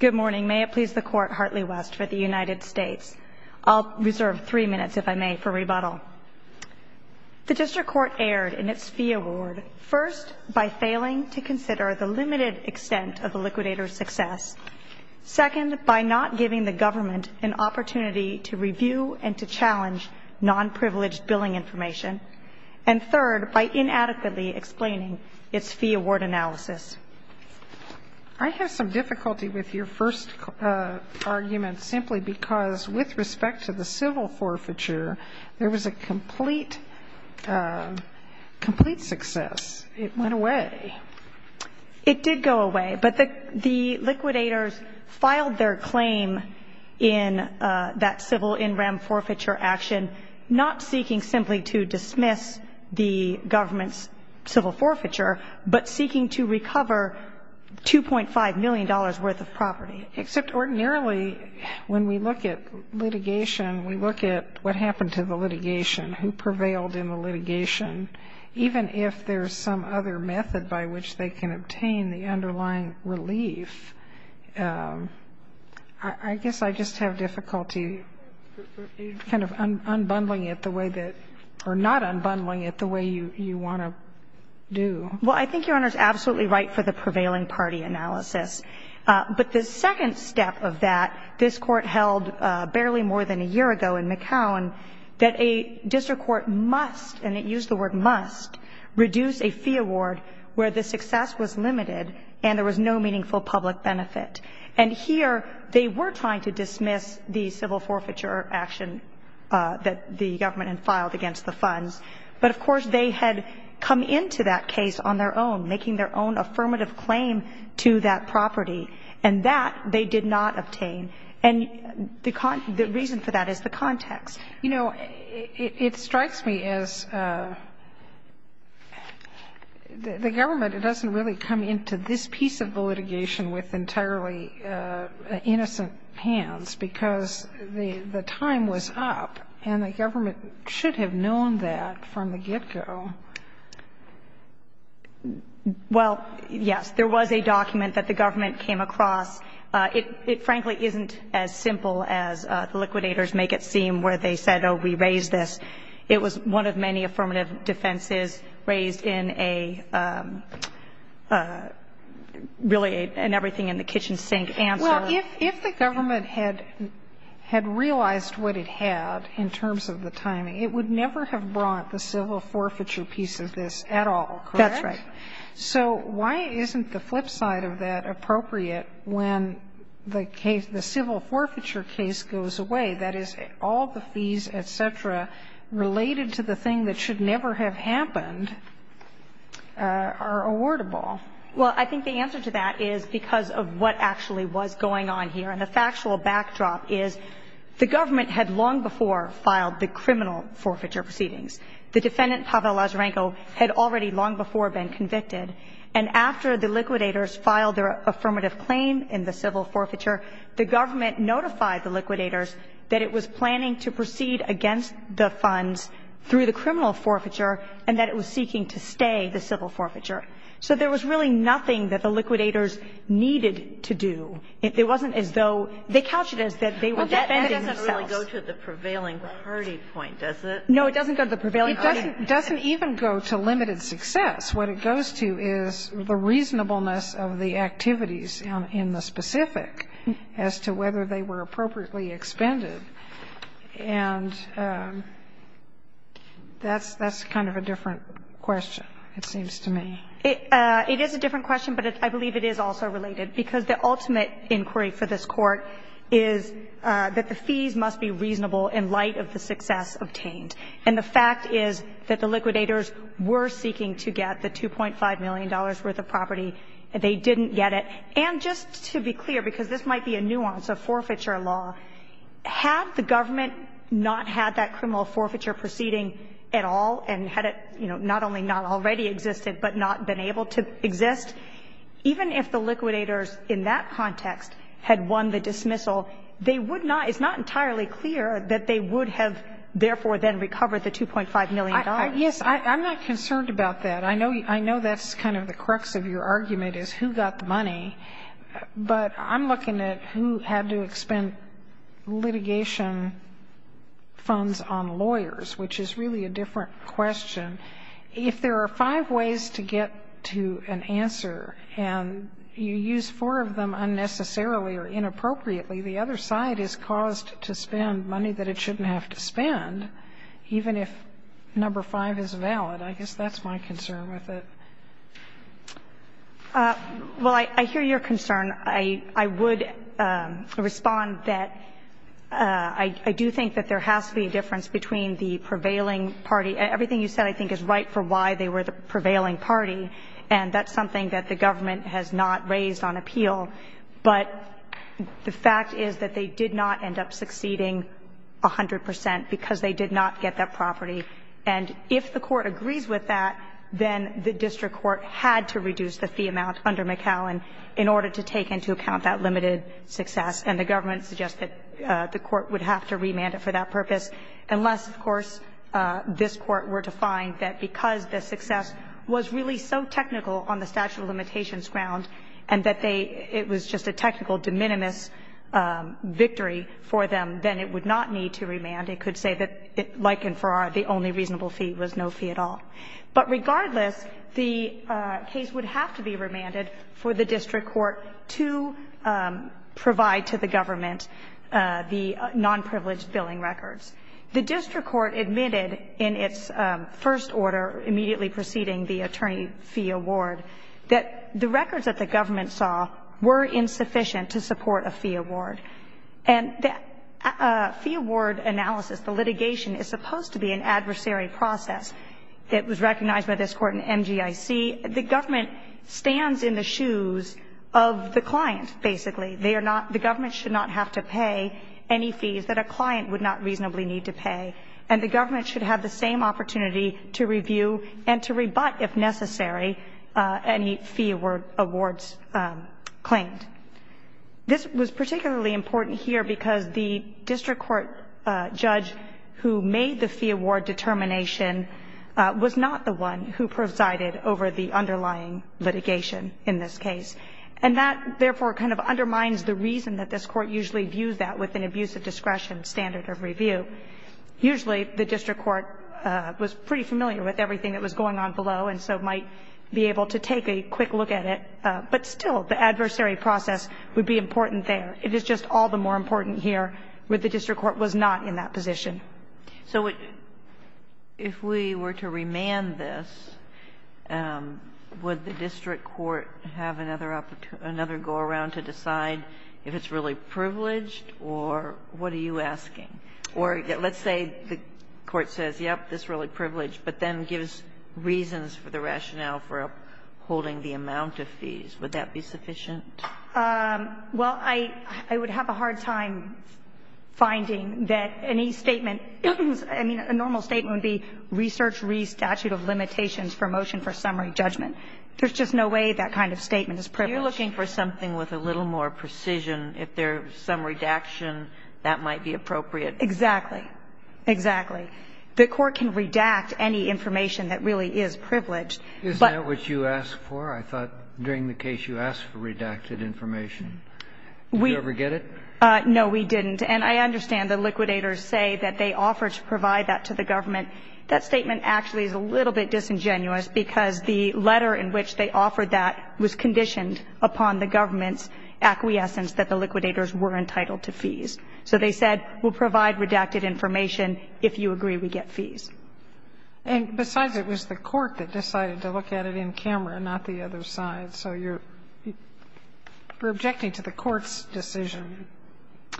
Good morning. May it please the Court, Hartley West for the United States. I'll reserve three minutes, if I may, for rebuttal. The District Court erred in its fee award, first, by failing to consider the limited extent of the liquidator's success, second, by not giving the government an opportunity to review and to challenge non-privileged billing information, and third, by inadequately explaining its fee award analysis. I have some difficulty with your first argument, simply because, with respect to the civil forfeiture, there was a complete success. It went away. It did go away, but the liquidators filed their claim in that civil in rem forfeiture action, not seeking simply to dismiss the government's civil forfeiture, but seeking to recover $2.5 million worth of property. Except ordinarily, when we look at litigation, we look at what happened to the litigation, who prevailed in the litigation. Even if there's some other method by which they can obtain the underlying relief, I guess I just have difficulty kind of unbundling it the way that or not unbundling it the way you want to do. Well, I think Your Honor is absolutely right for the prevailing party analysis. But the second step of that, this Court held barely more than a year ago in McCown that a district court must, and it used the word must, reduce a fee award where the success was limited and there was no meaningful public benefit. And here, they were trying to dismiss the civil forfeiture action that the government had filed against the funds. But, of course, they had come into that case on their own, making their own affirmative claim to that property, and that they did not obtain. And the reason for that is the context. You know, it strikes me as the government, it doesn't really come into this piece of the litigation with entirely innocent hands, because the time was up and the government should have known that from the get-go. Well, yes, there was a document that the government came across. It frankly isn't as simple as the liquidators make it seem where they said, oh, we raised this. It was one of many affirmative defenses raised in a really an everything-in-the-kitchen-sink answer. Well, if the government had realized what it had in terms of the timing, it would never have brought the civil forfeiture piece of this at all, correct? That's right. So why isn't the flip side of that appropriate when the case, the civil forfeiture case goes away, that is, all the fees, et cetera, related to the thing that should never have happened are awardable? Well, I think the answer to that is because of what actually was going on here. And the factual backdrop is the government had long before filed the criminal forfeiture proceedings. The defendant, Pavel Lazarenko, had already long before been convicted, and after the liquidators filed their affirmative claim in the civil forfeiture, the government notified the liquidators that it was planning to proceed against the funds through the criminal forfeiture and that it was seeking to stay the civil forfeiture. So there was really nothing that the liquidators needed to do. It wasn't as though they couched it as that they were defending themselves. Well, that doesn't really go to the prevailing party point, does it? No, it doesn't go to the prevailing party. It doesn't even go to limited success. What it goes to is the reasonableness of the activities in the specific as to whether they were appropriately expended. And that's kind of a different question, it seems to me. It is a different question, but I believe it is also related, because the ultimate inquiry for this Court is that the fees must be reasonable in light of the success obtained. And the fact is that the liquidators were seeking to get the $2.5 million worth of property. They didn't get it. And just to be clear, because this might be a nuance of forfeiture law, had the government not had that criminal forfeiture proceeding at all and had it, you know, not only not already existed but not been able to exist, even if the liquidators in that context had won the dismissal, they would not – it's not entirely clear that they would have therefore then recovered the $2.5 million. Yes. I'm not concerned about that. I know that's kind of the crux of your argument is who got the money, but I'm looking at who had to expend litigation funds on lawyers, which is really a different question. If there are five ways to get to an answer and you use four of them unnecessarily or inappropriately, the other side is caused to spend money that it shouldn't have to spend, even if number five is valid. I guess that's my concern with it. Well, I hear your concern. I would respond that I do think that there has to be a difference between the prevailing party – everything you said I think is right for why they were the prevailing party, and that's something that the government has not raised on appeal. But the fact is that they did not end up succeeding 100 percent because they did not get that property. And if the Court agrees with that, then the district court had to reduce the fee amount under McAllen in order to take into account that limited success, and the government suggests that the court would have to remand it for that purpose, unless, of course, this Court were to find that because the success was really so technical on the statute of limitations ground and that they – it was just a technical de minimis victory for them, then it would not need to remand. It could say that, like in Farrar, the only reasonable fee was no fee at all. But regardless, the case would have to be remanded for the district court to provide to the government the nonprivileged billing records. The district court admitted in its first order, immediately preceding the attorney fee award, that the records that the government saw were insufficient to support a fee award. And the fee award analysis, the litigation, is supposed to be an adversary process that was recognized by this Court in MGIC. The government stands in the shoes of the client, basically. They are not – the government should not have to pay any fees that a client would not reasonably need to pay, and the government should have the same opportunity to review and to rebut, if necessary, any fee awards claimed. This was particularly important here because the district court judge who made the fee award determination was not the one who presided over the underlying litigation in this case. And that, therefore, kind of undermines the reason that this Court usually views that with an abuse of discretion standard of review. Usually, the district court was pretty familiar with everything that was going on below and so might be able to take a quick look at it. But still, the adversary process would be important there. It is just all the more important here where the district court was not in that position. Kagan. So if we were to remand this, would the district court have another opportunity – another go-around to decide if it's really privileged or what are you asking? Or let's say the court says, yes, this is really privileged, but then gives reasons for the rationale for upholding the amount of fees. Would that be sufficient? Well, I would have a hard time finding that any statement – I mean, a normal statement would be research re-statute of limitations for motion for summary judgment. There's just no way that kind of statement is privileged. You're looking for something with a little more precision. If there's some redaction, that might be appropriate. Exactly. Exactly. The court can redact any information that really is privileged. Isn't that what you asked for? I thought during the case you asked for redacted information. Did you ever get it? No, we didn't. And I understand the liquidators say that they offered to provide that to the government. That statement actually is a little bit disingenuous because the letter in which they offered that was conditioned upon the government's acquiescence that the liquidators were entitled to fees. So they said, we'll provide redacted information if you agree we get fees. And besides, it was the court that decided to look at it in camera, not the other side. So you're – you're objecting to the court's decision,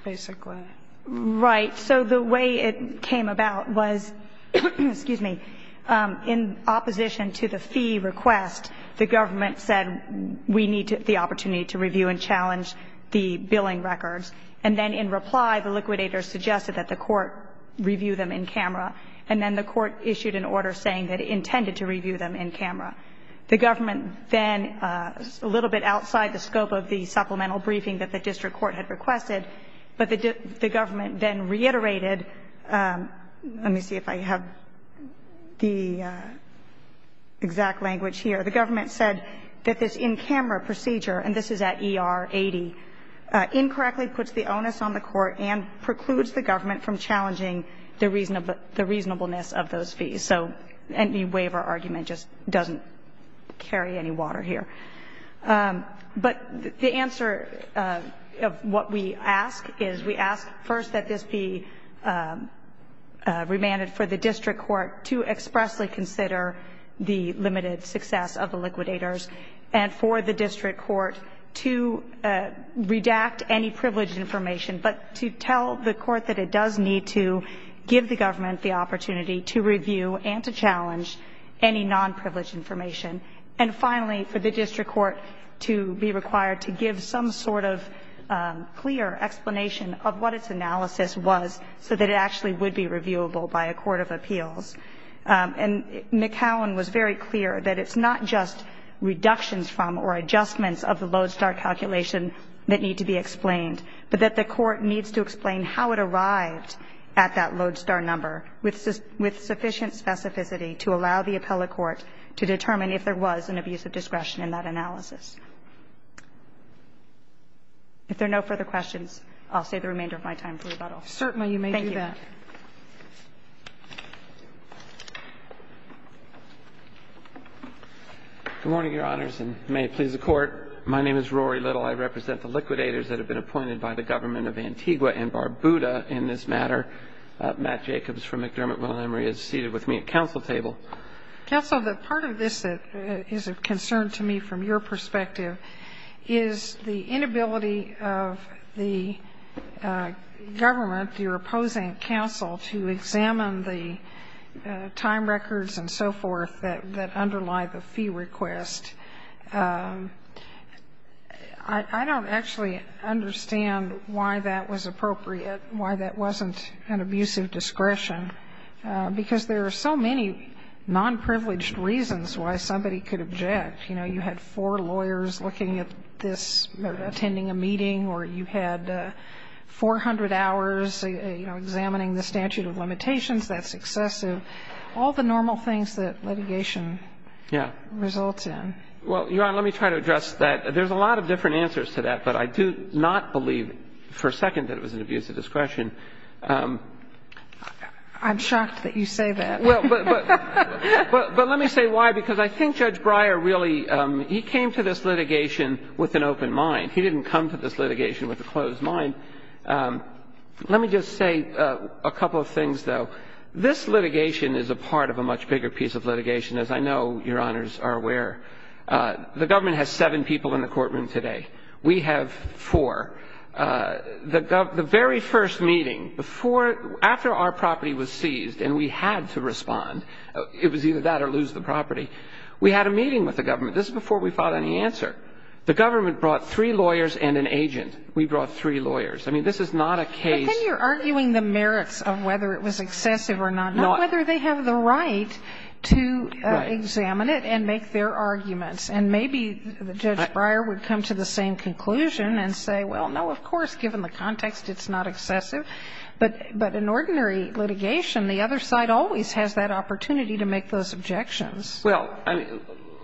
basically. Right. So the way it came about was – excuse me – in opposition to the fee request, the government said we need the opportunity to review and challenge the billing records. And then in reply, the liquidators suggested that the court review them in camera and then the court issued an order saying that it intended to review them in camera. The government then – a little bit outside the scope of the supplemental briefing that the district court had requested, but the government then reiterated – let me see if I have the exact language here. The government said that this in-camera procedure, and this is at ER 80, incorrectly puts the onus on the court and precludes the government from challenging the reasonable – the reasonableness of those fees. So any waiver argument just doesn't carry any water here. But the answer of what we ask is we ask first that this be remanded for the district court to expressly consider the limited success of the liquidators and for the district court to redact any privileged information, but to tell the court that it does need to give the government the opportunity to review and to challenge any nonprivileged information, and finally, for the district court to be required to give some sort of clear explanation of what its analysis was so that it actually would be reviewable by a court of appeals. And McAllen was very clear that it's not just reductions from or adjustments of the Lodestar calculation that need to be explained, but that the court needs to explain how it arrived at that Lodestar number with sufficient specificity to allow the appellate court to determine if there was an abuse of discretion in that analysis. If there are no further questions, I'll save the remainder of my time for rebuttal. MS. Certainly, you may do that. MR. LITTLE Good morning, Your Honors, and may it please the Court. My name is Rory Little. I represent the liquidators that have been appointed by the government of Antigua and Barbuda in this matter. Matt Jacobs from McDermott-Williams is seated with me at counsel table. MCDERMOTT-WILLIAMS Counsel, the part of this that is of concern to me from your perspective is the inability of the government, your opposing counsel, to examine the time records and so forth that underlie the fee request. I don't actually understand why that was appropriate, why that wasn't an abuse of discretion, because there are so many nonprivileged reasons why somebody could object. You know, you had four lawyers looking at this, attending a meeting, or you had 400 hours, you know, examining the statute of limitations, that's excessive. All the normal things that litigation results in. Well, Your Honor, let me try to address that. There's a lot of different answers to that, but I do not believe for a second that it was an abuse of discretion. I'm shocked that you say that. But let me say why, because I think Judge Breyer really, he came to this litigation with an open mind. He didn't come to this litigation with a closed mind. Let me just say a couple of things, though. This litigation is a part of a much bigger piece of litigation, as I know Your Honors are aware. The government has seven people in the courtroom today. We have four. The very first meeting, before, after our property was seized and we had to respond, it was either that or lose the property, we had a meeting with the government. This is before we filed any answer. The government brought three lawyers and an agent. We brought three lawyers. I mean, this is not a case. But then you're arguing the merits of whether it was excessive or not. Not whether they have the right to examine it and make their arguments. And maybe Judge Breyer would come to the same conclusion and say, well, no, of course, given the context, it's not excessive. But in ordinary litigation, the other side always has that opportunity to make those objections. Well,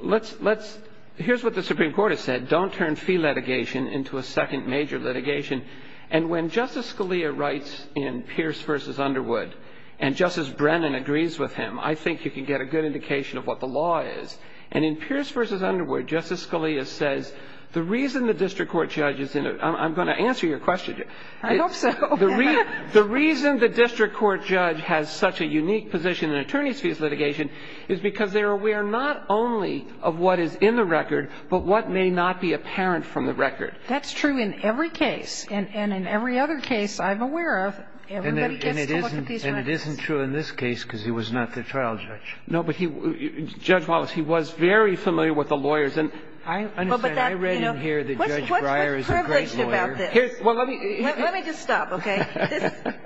let's, here's what the Supreme Court has said, don't turn fee litigation into a second major litigation. And when Justice Scalia writes in Pierce v. Underwood and Justice Brennan agrees with him, I think you can get a good indication of what the law is. And in Pierce v. Underwood, Justice Scalia says the reason the district court judge is in it, I'm going to answer your question. I hope so. The reason the district court judge has such a unique position in attorneys' fees litigation is because they're aware not only of what is in the record, but what may not be apparent from the record. That's true in every case. And in every other case I'm aware of, everybody gets to look at these records. And it isn't true in this case because he was not the trial judge. No, but he was. Judge Wallace, he was very familiar with the lawyers. And I understand. I read in here that Judge Breyer is a great lawyer. Well, let me just stop, okay?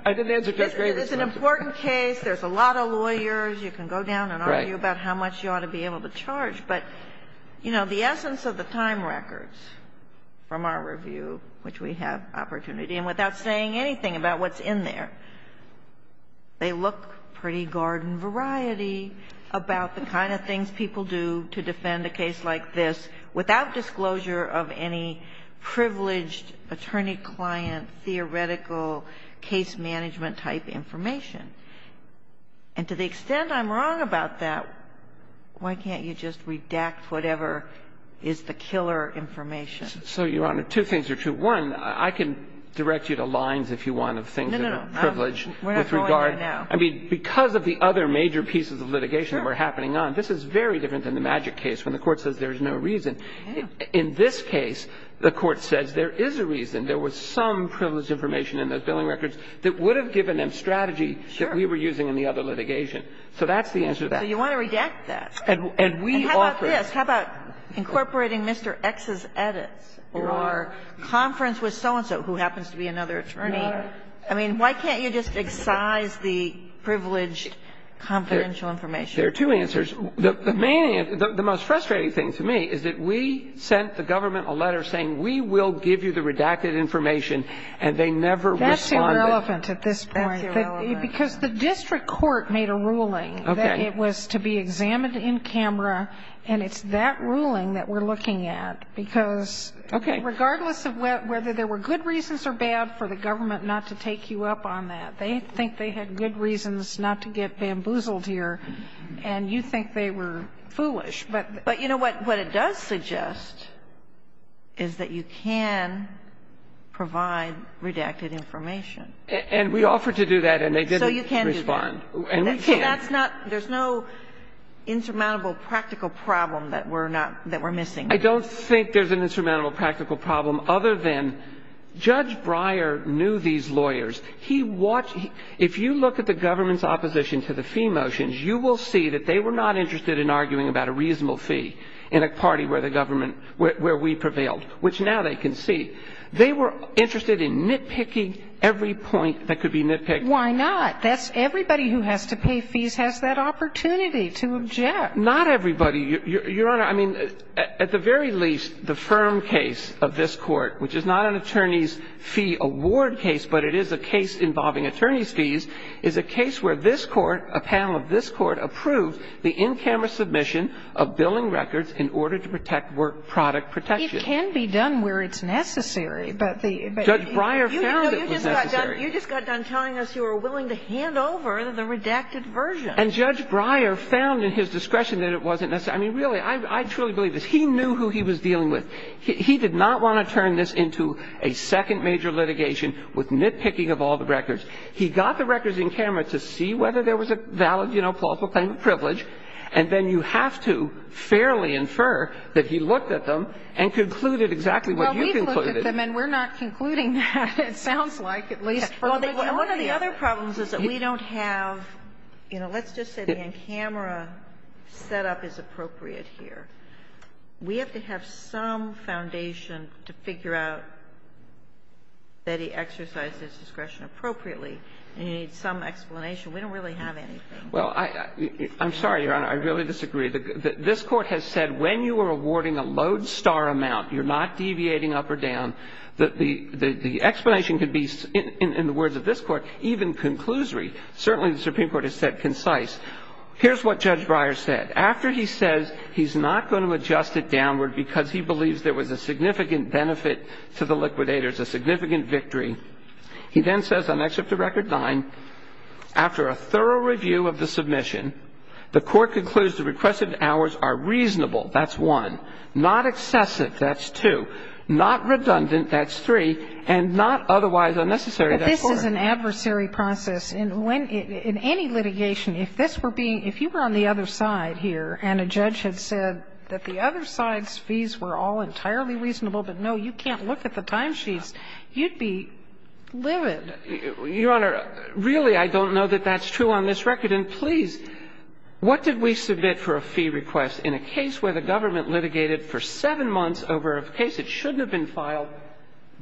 I didn't answer Judge Breyer's question. This is an important case. There's a lot of lawyers. You can go down and argue about how much you ought to be able to charge. But, you know, the essence of the time records from our review, which we have opportunity, and without saying anything about what's in there, they look pretty garden-variety about the kind of things people do to defend a case like this without disclosure of any privileged attorney-client theoretical case-management-type information. And to the extent I'm wrong about that, why can't you just redact whatever is the killer information? So, Your Honor, two things are true. One, I can direct you to lines, if you want, of things that are privileged. No, no, no. We're not going there now. I mean, because of the other major pieces of litigation that were happening on, this is very different than the Magic case when the Court says there's no reason. In this case, the Court says there is a reason. There was some privileged information in those billing records that would have given them strategy that we were using in the other litigation. So that's the answer to that. So you want to redact that. And we offer it. And how about this? How about incorporating Mr. X's edits? Your Honor. Or conference with so-and-so, who happens to be another attorney. Your Honor. I mean, why can't you just excise the privileged confidential information? There are two answers. The main answer, the most frustrating thing to me is that we sent the government a letter saying we will give you the redacted information, and they never responded. That's irrelevant at this point. That's irrelevant. Because the district court made a ruling that it was to be examined in camera, and it's that ruling that we're looking at, because regardless of whether there were good reasons or bad for the government not to take you up on that, they think they had good reasons not to get bamboozled here, and you think they were foolish. But you know what? What it does suggest is that you can provide redacted information. And we offered to do that, and they didn't respond. So you can do that. And we can. So that's not – there's no insurmountable practical problem that we're not – that we're missing. I don't think there's an insurmountable practical problem other than Judge Breyer knew these lawyers. He watched – if you look at the government's opposition to the fee motions, you will see that they were not interested in arguing about a reasonable fee in a party where the government – where we prevailed, which now they can see. They were interested in nitpicking every point that could be nitpicked. Why not? That's – everybody who has to pay fees has that opportunity to object. Not everybody. Your Honor, I mean, at the very least, the firm case of this Court, which is not an attorneys' fee award case, but it is a case involving attorneys' fees, is a case where this Court, a panel of this Court, approved the in-camera submission of billing records in order to protect work product protection. It can be done where it's necessary, but the – Judge Breyer found it was necessary. You just got done telling us you were willing to hand over the redacted version. And Judge Breyer found in his discretion that it wasn't – I mean, really, I truly believe this. He knew who he was dealing with. He did not want to turn this into a second major litigation with nitpicking of all the records. He got the records in-camera to see whether there was a valid, you know, plausible claim of privilege, and then you have to fairly infer that he looked at them and concluded exactly what you concluded. Well, we've looked at them, and we're not concluding that, it sounds like, at least for the video. Well, one of the other problems is that we don't have – you know, let's just say the in-camera setup is appropriate here. We have to have some foundation to figure out that he exercised his discretion appropriately. And you need some explanation. We don't really have anything. Well, I'm sorry, Your Honor. I really disagree. This Court has said when you are awarding a lodestar amount, you're not deviating up or down. The explanation could be, in the words of this Court, even conclusory. Certainly, the Supreme Court has said concise. Here's what Judge Breyer said. After he says he's not going to adjust it downward because he believes there was a significant benefit to the liquidators, a significant victory. He then says on Excerpt to Record 9, after a thorough review of the submission, the Court concludes the requested hours are reasonable. That's one. Not excessive, that's two. Not redundant, that's three. And not otherwise unnecessary, that's four. But this is an adversary process. In any litigation, if this were being – if you were on the other side here and a judge had said that the other side's fees were all entirely reasonable, but, no, you can't look at the timesheets, you'd be livid. Your Honor, really, I don't know that that's true on this record. And, please, what did we submit for a fee request in a case where the government litigated for seven months over a case that shouldn't have been filed?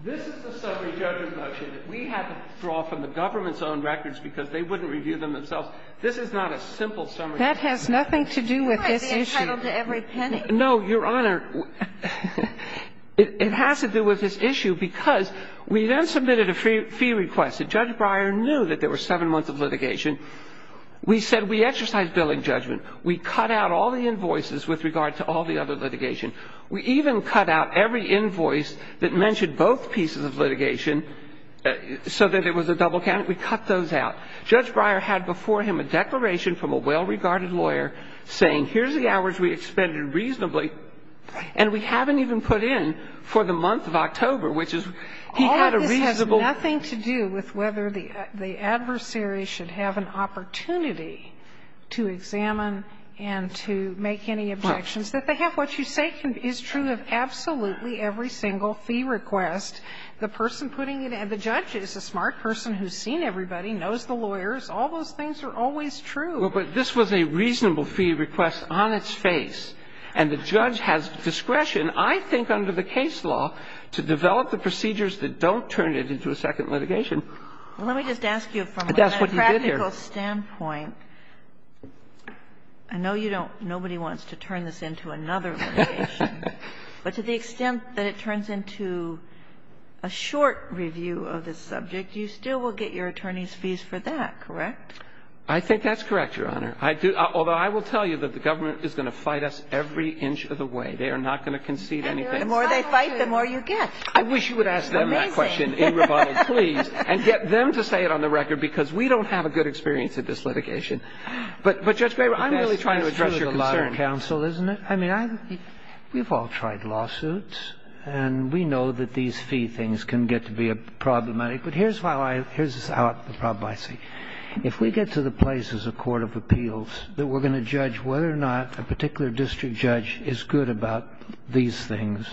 This is the summary judgment motion that we had to draw from the government's own records because they wouldn't review them themselves. This is not a simple summary judgment. That has nothing to do with this issue. Who has the entitlement to every penny? No, Your Honor, it has to do with this issue because we then submitted a fee request. Judge Breyer knew that there were seven months of litigation. We said we exercised billing judgment. We cut out all the invoices with regard to all the other litigation. We even cut out every invoice that mentioned both pieces of litigation so that it was a double count. We cut those out. Judge Breyer had before him a declaration from a well-regarded lawyer saying, here's the hours we expended reasonably, and we haven't even put in for the month of October, which is he had a reasonable. And all of this has nothing to do with whether the adversary should have an opportunity to examine and to make any objections that they have. What you say is true of absolutely every single fee request. The person putting it in, the judge is a smart person who's seen everybody, knows the lawyers. All those things are always true. Well, but this was a reasonable fee request on its face, and the judge has discretion, I think, under the case law, to develop the procedures that don't turn it into a second litigation. Well, let me just ask you from a practical standpoint. I know you don't – nobody wants to turn this into another litigation. But to the extent that it turns into a short review of this subject, you still will get your attorney's fees for that, correct? I think that's correct, Your Honor. I do – although I will tell you that the government is going to fight us every inch of the way. They are not going to concede anything. And the more they fight, the more you get. I wish you would ask them that question in rebuttal, please, and get them to say it on the record, because we don't have a good experience at this litigation. But, Judge Graber, I'm really trying to address your concern. That's true of a lot of counsel, isn't it? I mean, we've all tried lawsuits, and we know that these fee things can get to be problematic. But here's how I – here's the problem I see. If we get to the place as a court of appeals that we're going to judge whether or not a particular district judge is good about these things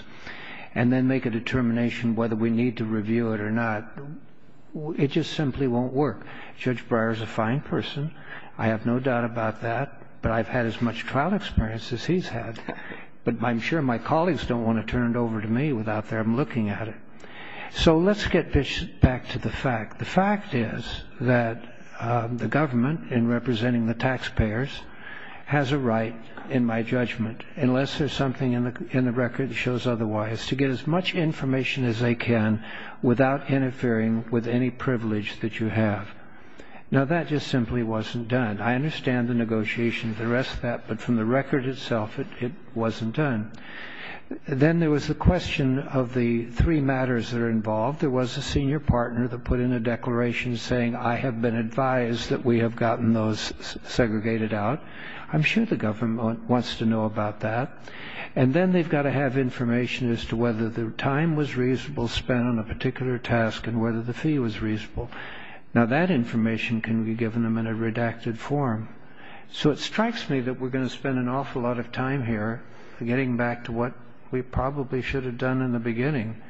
and then make a determination whether we need to review it or not, it just simply won't work. Judge Breyer is a fine person. I have no doubt about that. But I've had as much trial experience as he's had. But I'm sure my colleagues don't want to turn it over to me without them looking at it. So let's get back to the fact. The fact is that the government, in representing the taxpayers, has a right, in my judgment, unless there's something in the record that shows otherwise, to get as much information as they can without interfering with any privilege that you have. Now, that just simply wasn't done. I understand the negotiations, the rest of that, but from the record itself, it wasn't done. Then there was the question of the three matters that are involved. There was a senior partner that put in a declaration saying, I have been advised that we have gotten those segregated out. I'm sure the government wants to know about that. And then they've got to have information as to whether the time was reasonable spent on a particular task and whether the fee was reasonable. Now, that information can be given them in a redacted form. So it strikes me that we're going to spend an awful lot of time here getting back to what we probably should have done in the beginning,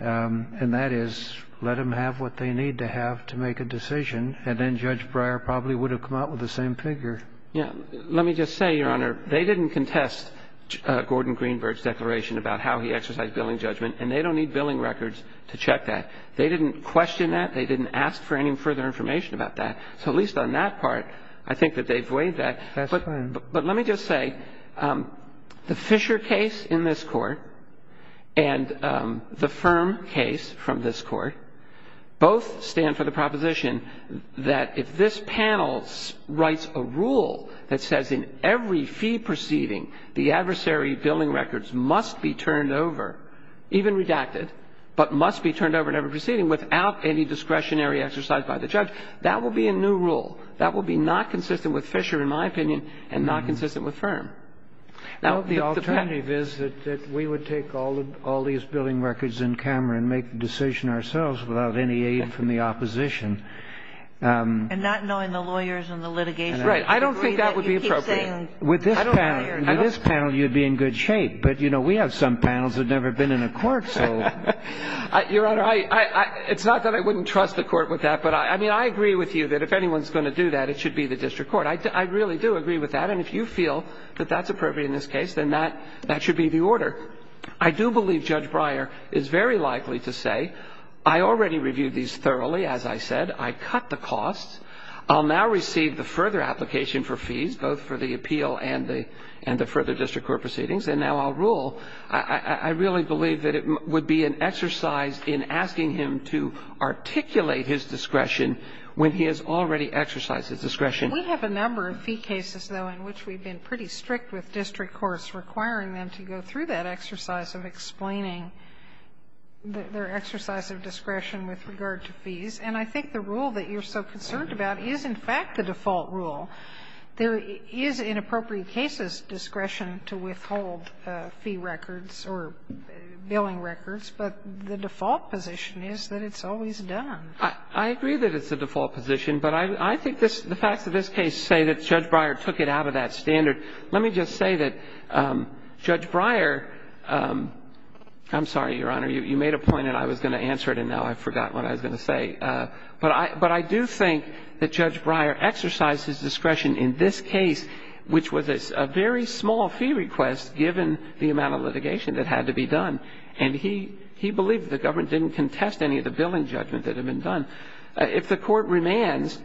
and that is let them have what they need to have to make a decision, and then Judge Breyer probably would have come out with the same figure. Yeah. Let me just say, Your Honor, they didn't contest Gordon Greenberg's declaration about how he exercised billing judgment, and they don't need billing records to check that. They didn't question that. They didn't ask for any further information about that. So at least on that part, I think that they've weighed that. That's fine. But let me just say, the Fisher case in this Court and the Firm case from this Court both stand for the proposition that if this panel writes a rule that says in every fee proceeding the adversary billing records must be turned over, even redacted, but must be turned over in every proceeding without any discretionary exercise by the judge, that will be a new rule. That will be not consistent with Fisher, in my opinion, and not consistent with Firm. The alternative is that we would take all these billing records in camera and make the decision ourselves without any aid from the opposition. And not knowing the lawyers and the litigation. Right. I don't think that would be appropriate. With this panel, you'd be in good shape. But, you know, we have some panels that have never been in a court, so. Your Honor, it's not that I wouldn't trust the Court with that, but I mean, I agree with you that if anyone's going to do that, it should be the district court. I really do agree with that. And if you feel that that's appropriate in this case, then that should be the order. I do believe Judge Breyer is very likely to say, I already reviewed these thoroughly, as I said. I cut the costs. I'll now receive the further application for fees, both for the appeal and the further district court proceedings, and now I'll rule. I really believe that it would be an exercise in asking him to articulate his discretion when he has already exercised his discretion. We have a number of fee cases, though, in which we've been pretty strict with district courts, requiring them to go through that exercise of explaining their exercise of discretion with regard to fees. And I think the rule that you're so concerned about is in fact the default rule. There is, in appropriate cases, discretion to withhold fee records or billing records, but the default position is that it's always done. I agree that it's the default position, but I think the facts of this case say that Judge Breyer took it out of that standard. Let me just say that Judge Breyer – I'm sorry, Your Honor. You made a point and I was going to answer it, and now I forgot what I was going to say. But I do think that Judge Breyer exercised his discretion in this case, which was a very small fee request given the amount of litigation that had to be done, and he believed that the government didn't contest any of the billing judgment that had been done. If the Court remands,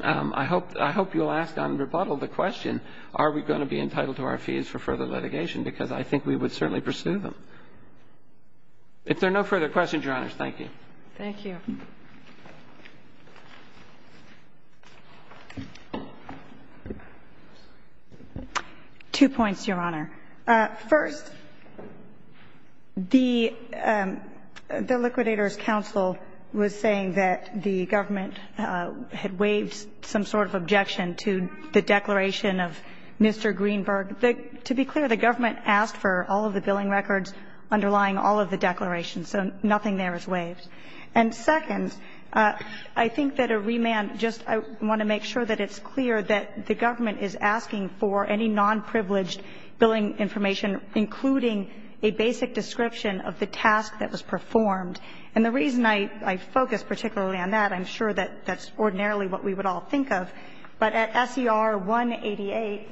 I hope you'll ask on rebuttal the question, are we going to be entitled to our fees for further litigation, because I think we would certainly pursue them. If there are no further questions, Your Honors, thank you. Thank you. Two points, Your Honor. First, the Liquidators' Counsel was saying that the government had waived some sort of objection to the declaration of Mr. Greenberg. To be clear, the government asked for all of the billing records underlying all of the declarations, so nothing there is waived. And second, I think that a remand, just I want to make sure that it's clear that the government is asking for any non-privileged billing information, including a basic description of the task that was performed. And the reason I focus particularly on that, I'm sure that that's ordinarily what we would all think of, but at SER 188,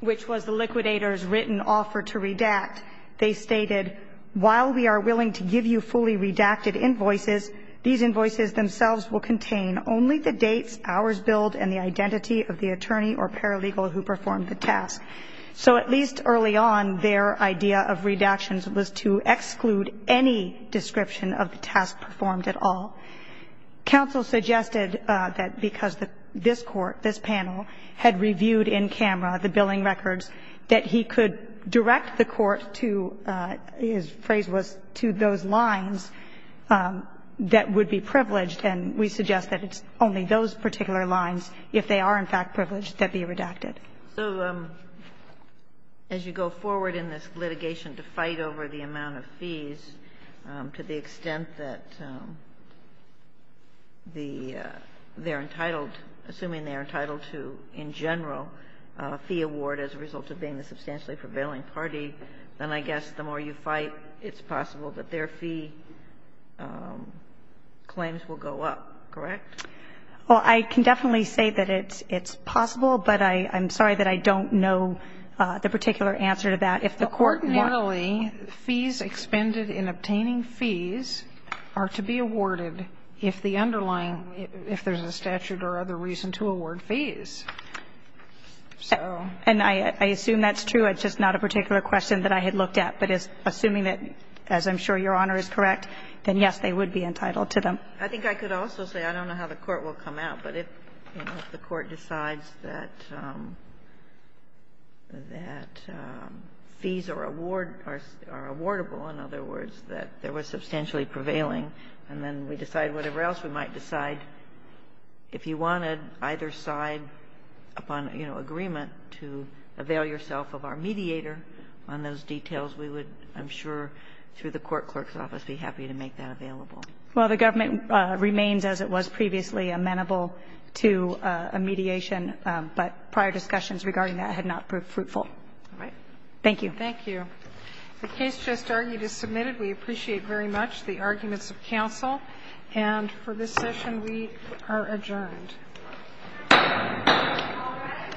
which was the Liquidators' written offer to redact, they stated, while we are willing to give you fully redacted invoices, these invoices themselves will contain only the dates, hours billed, and the identity of the attorney or paralegal who performed the task. So at least early on, their idea of redactions was to exclude any description of the task performed at all. Counsel suggested that because this Court, this panel, had reviewed in camera the redacted invoices, that the redaction was to, his phrase was, to those lines that would be privileged, and we suggest that it's only those particular lines, if they are in fact privileged, that be redacted. So as you go forward in this litigation to fight over the amount of fees, to the extent that the they're entitled, assuming they're entitled to, in general, a fee award as a condition, I guess the more you fight, it's possible that their fee claims will go up. Correct? Well, I can definitely say that it's possible, but I'm sorry that I don't know the particular answer to that. If the Court wants to. Coordinately, fees expended in obtaining fees are to be awarded if the underlying if there's a statute or other reason to award fees. And I assume that's true. It's just not a particular question that I had looked at. But assuming that, as I'm sure Your Honor is correct, then yes, they would be entitled to them. I think I could also say, I don't know how the Court will come out, but if the Court decides that fees are awardable, in other words, that there was substantially prevailing, and then we decide whatever else we might decide, if you wanted either side upon agreement to avail yourself of our mediator on those details, we would, I'm sure, through the court clerk's office, be happy to make that available. Well, the government remains, as it was previously, amenable to a mediation, but prior discussions regarding that had not proved fruitful. All right. Thank you. Thank you. The case just argued is submitted. We appreciate very much the arguments of counsel. And for this session, we are adjourned. Thank you. All rise.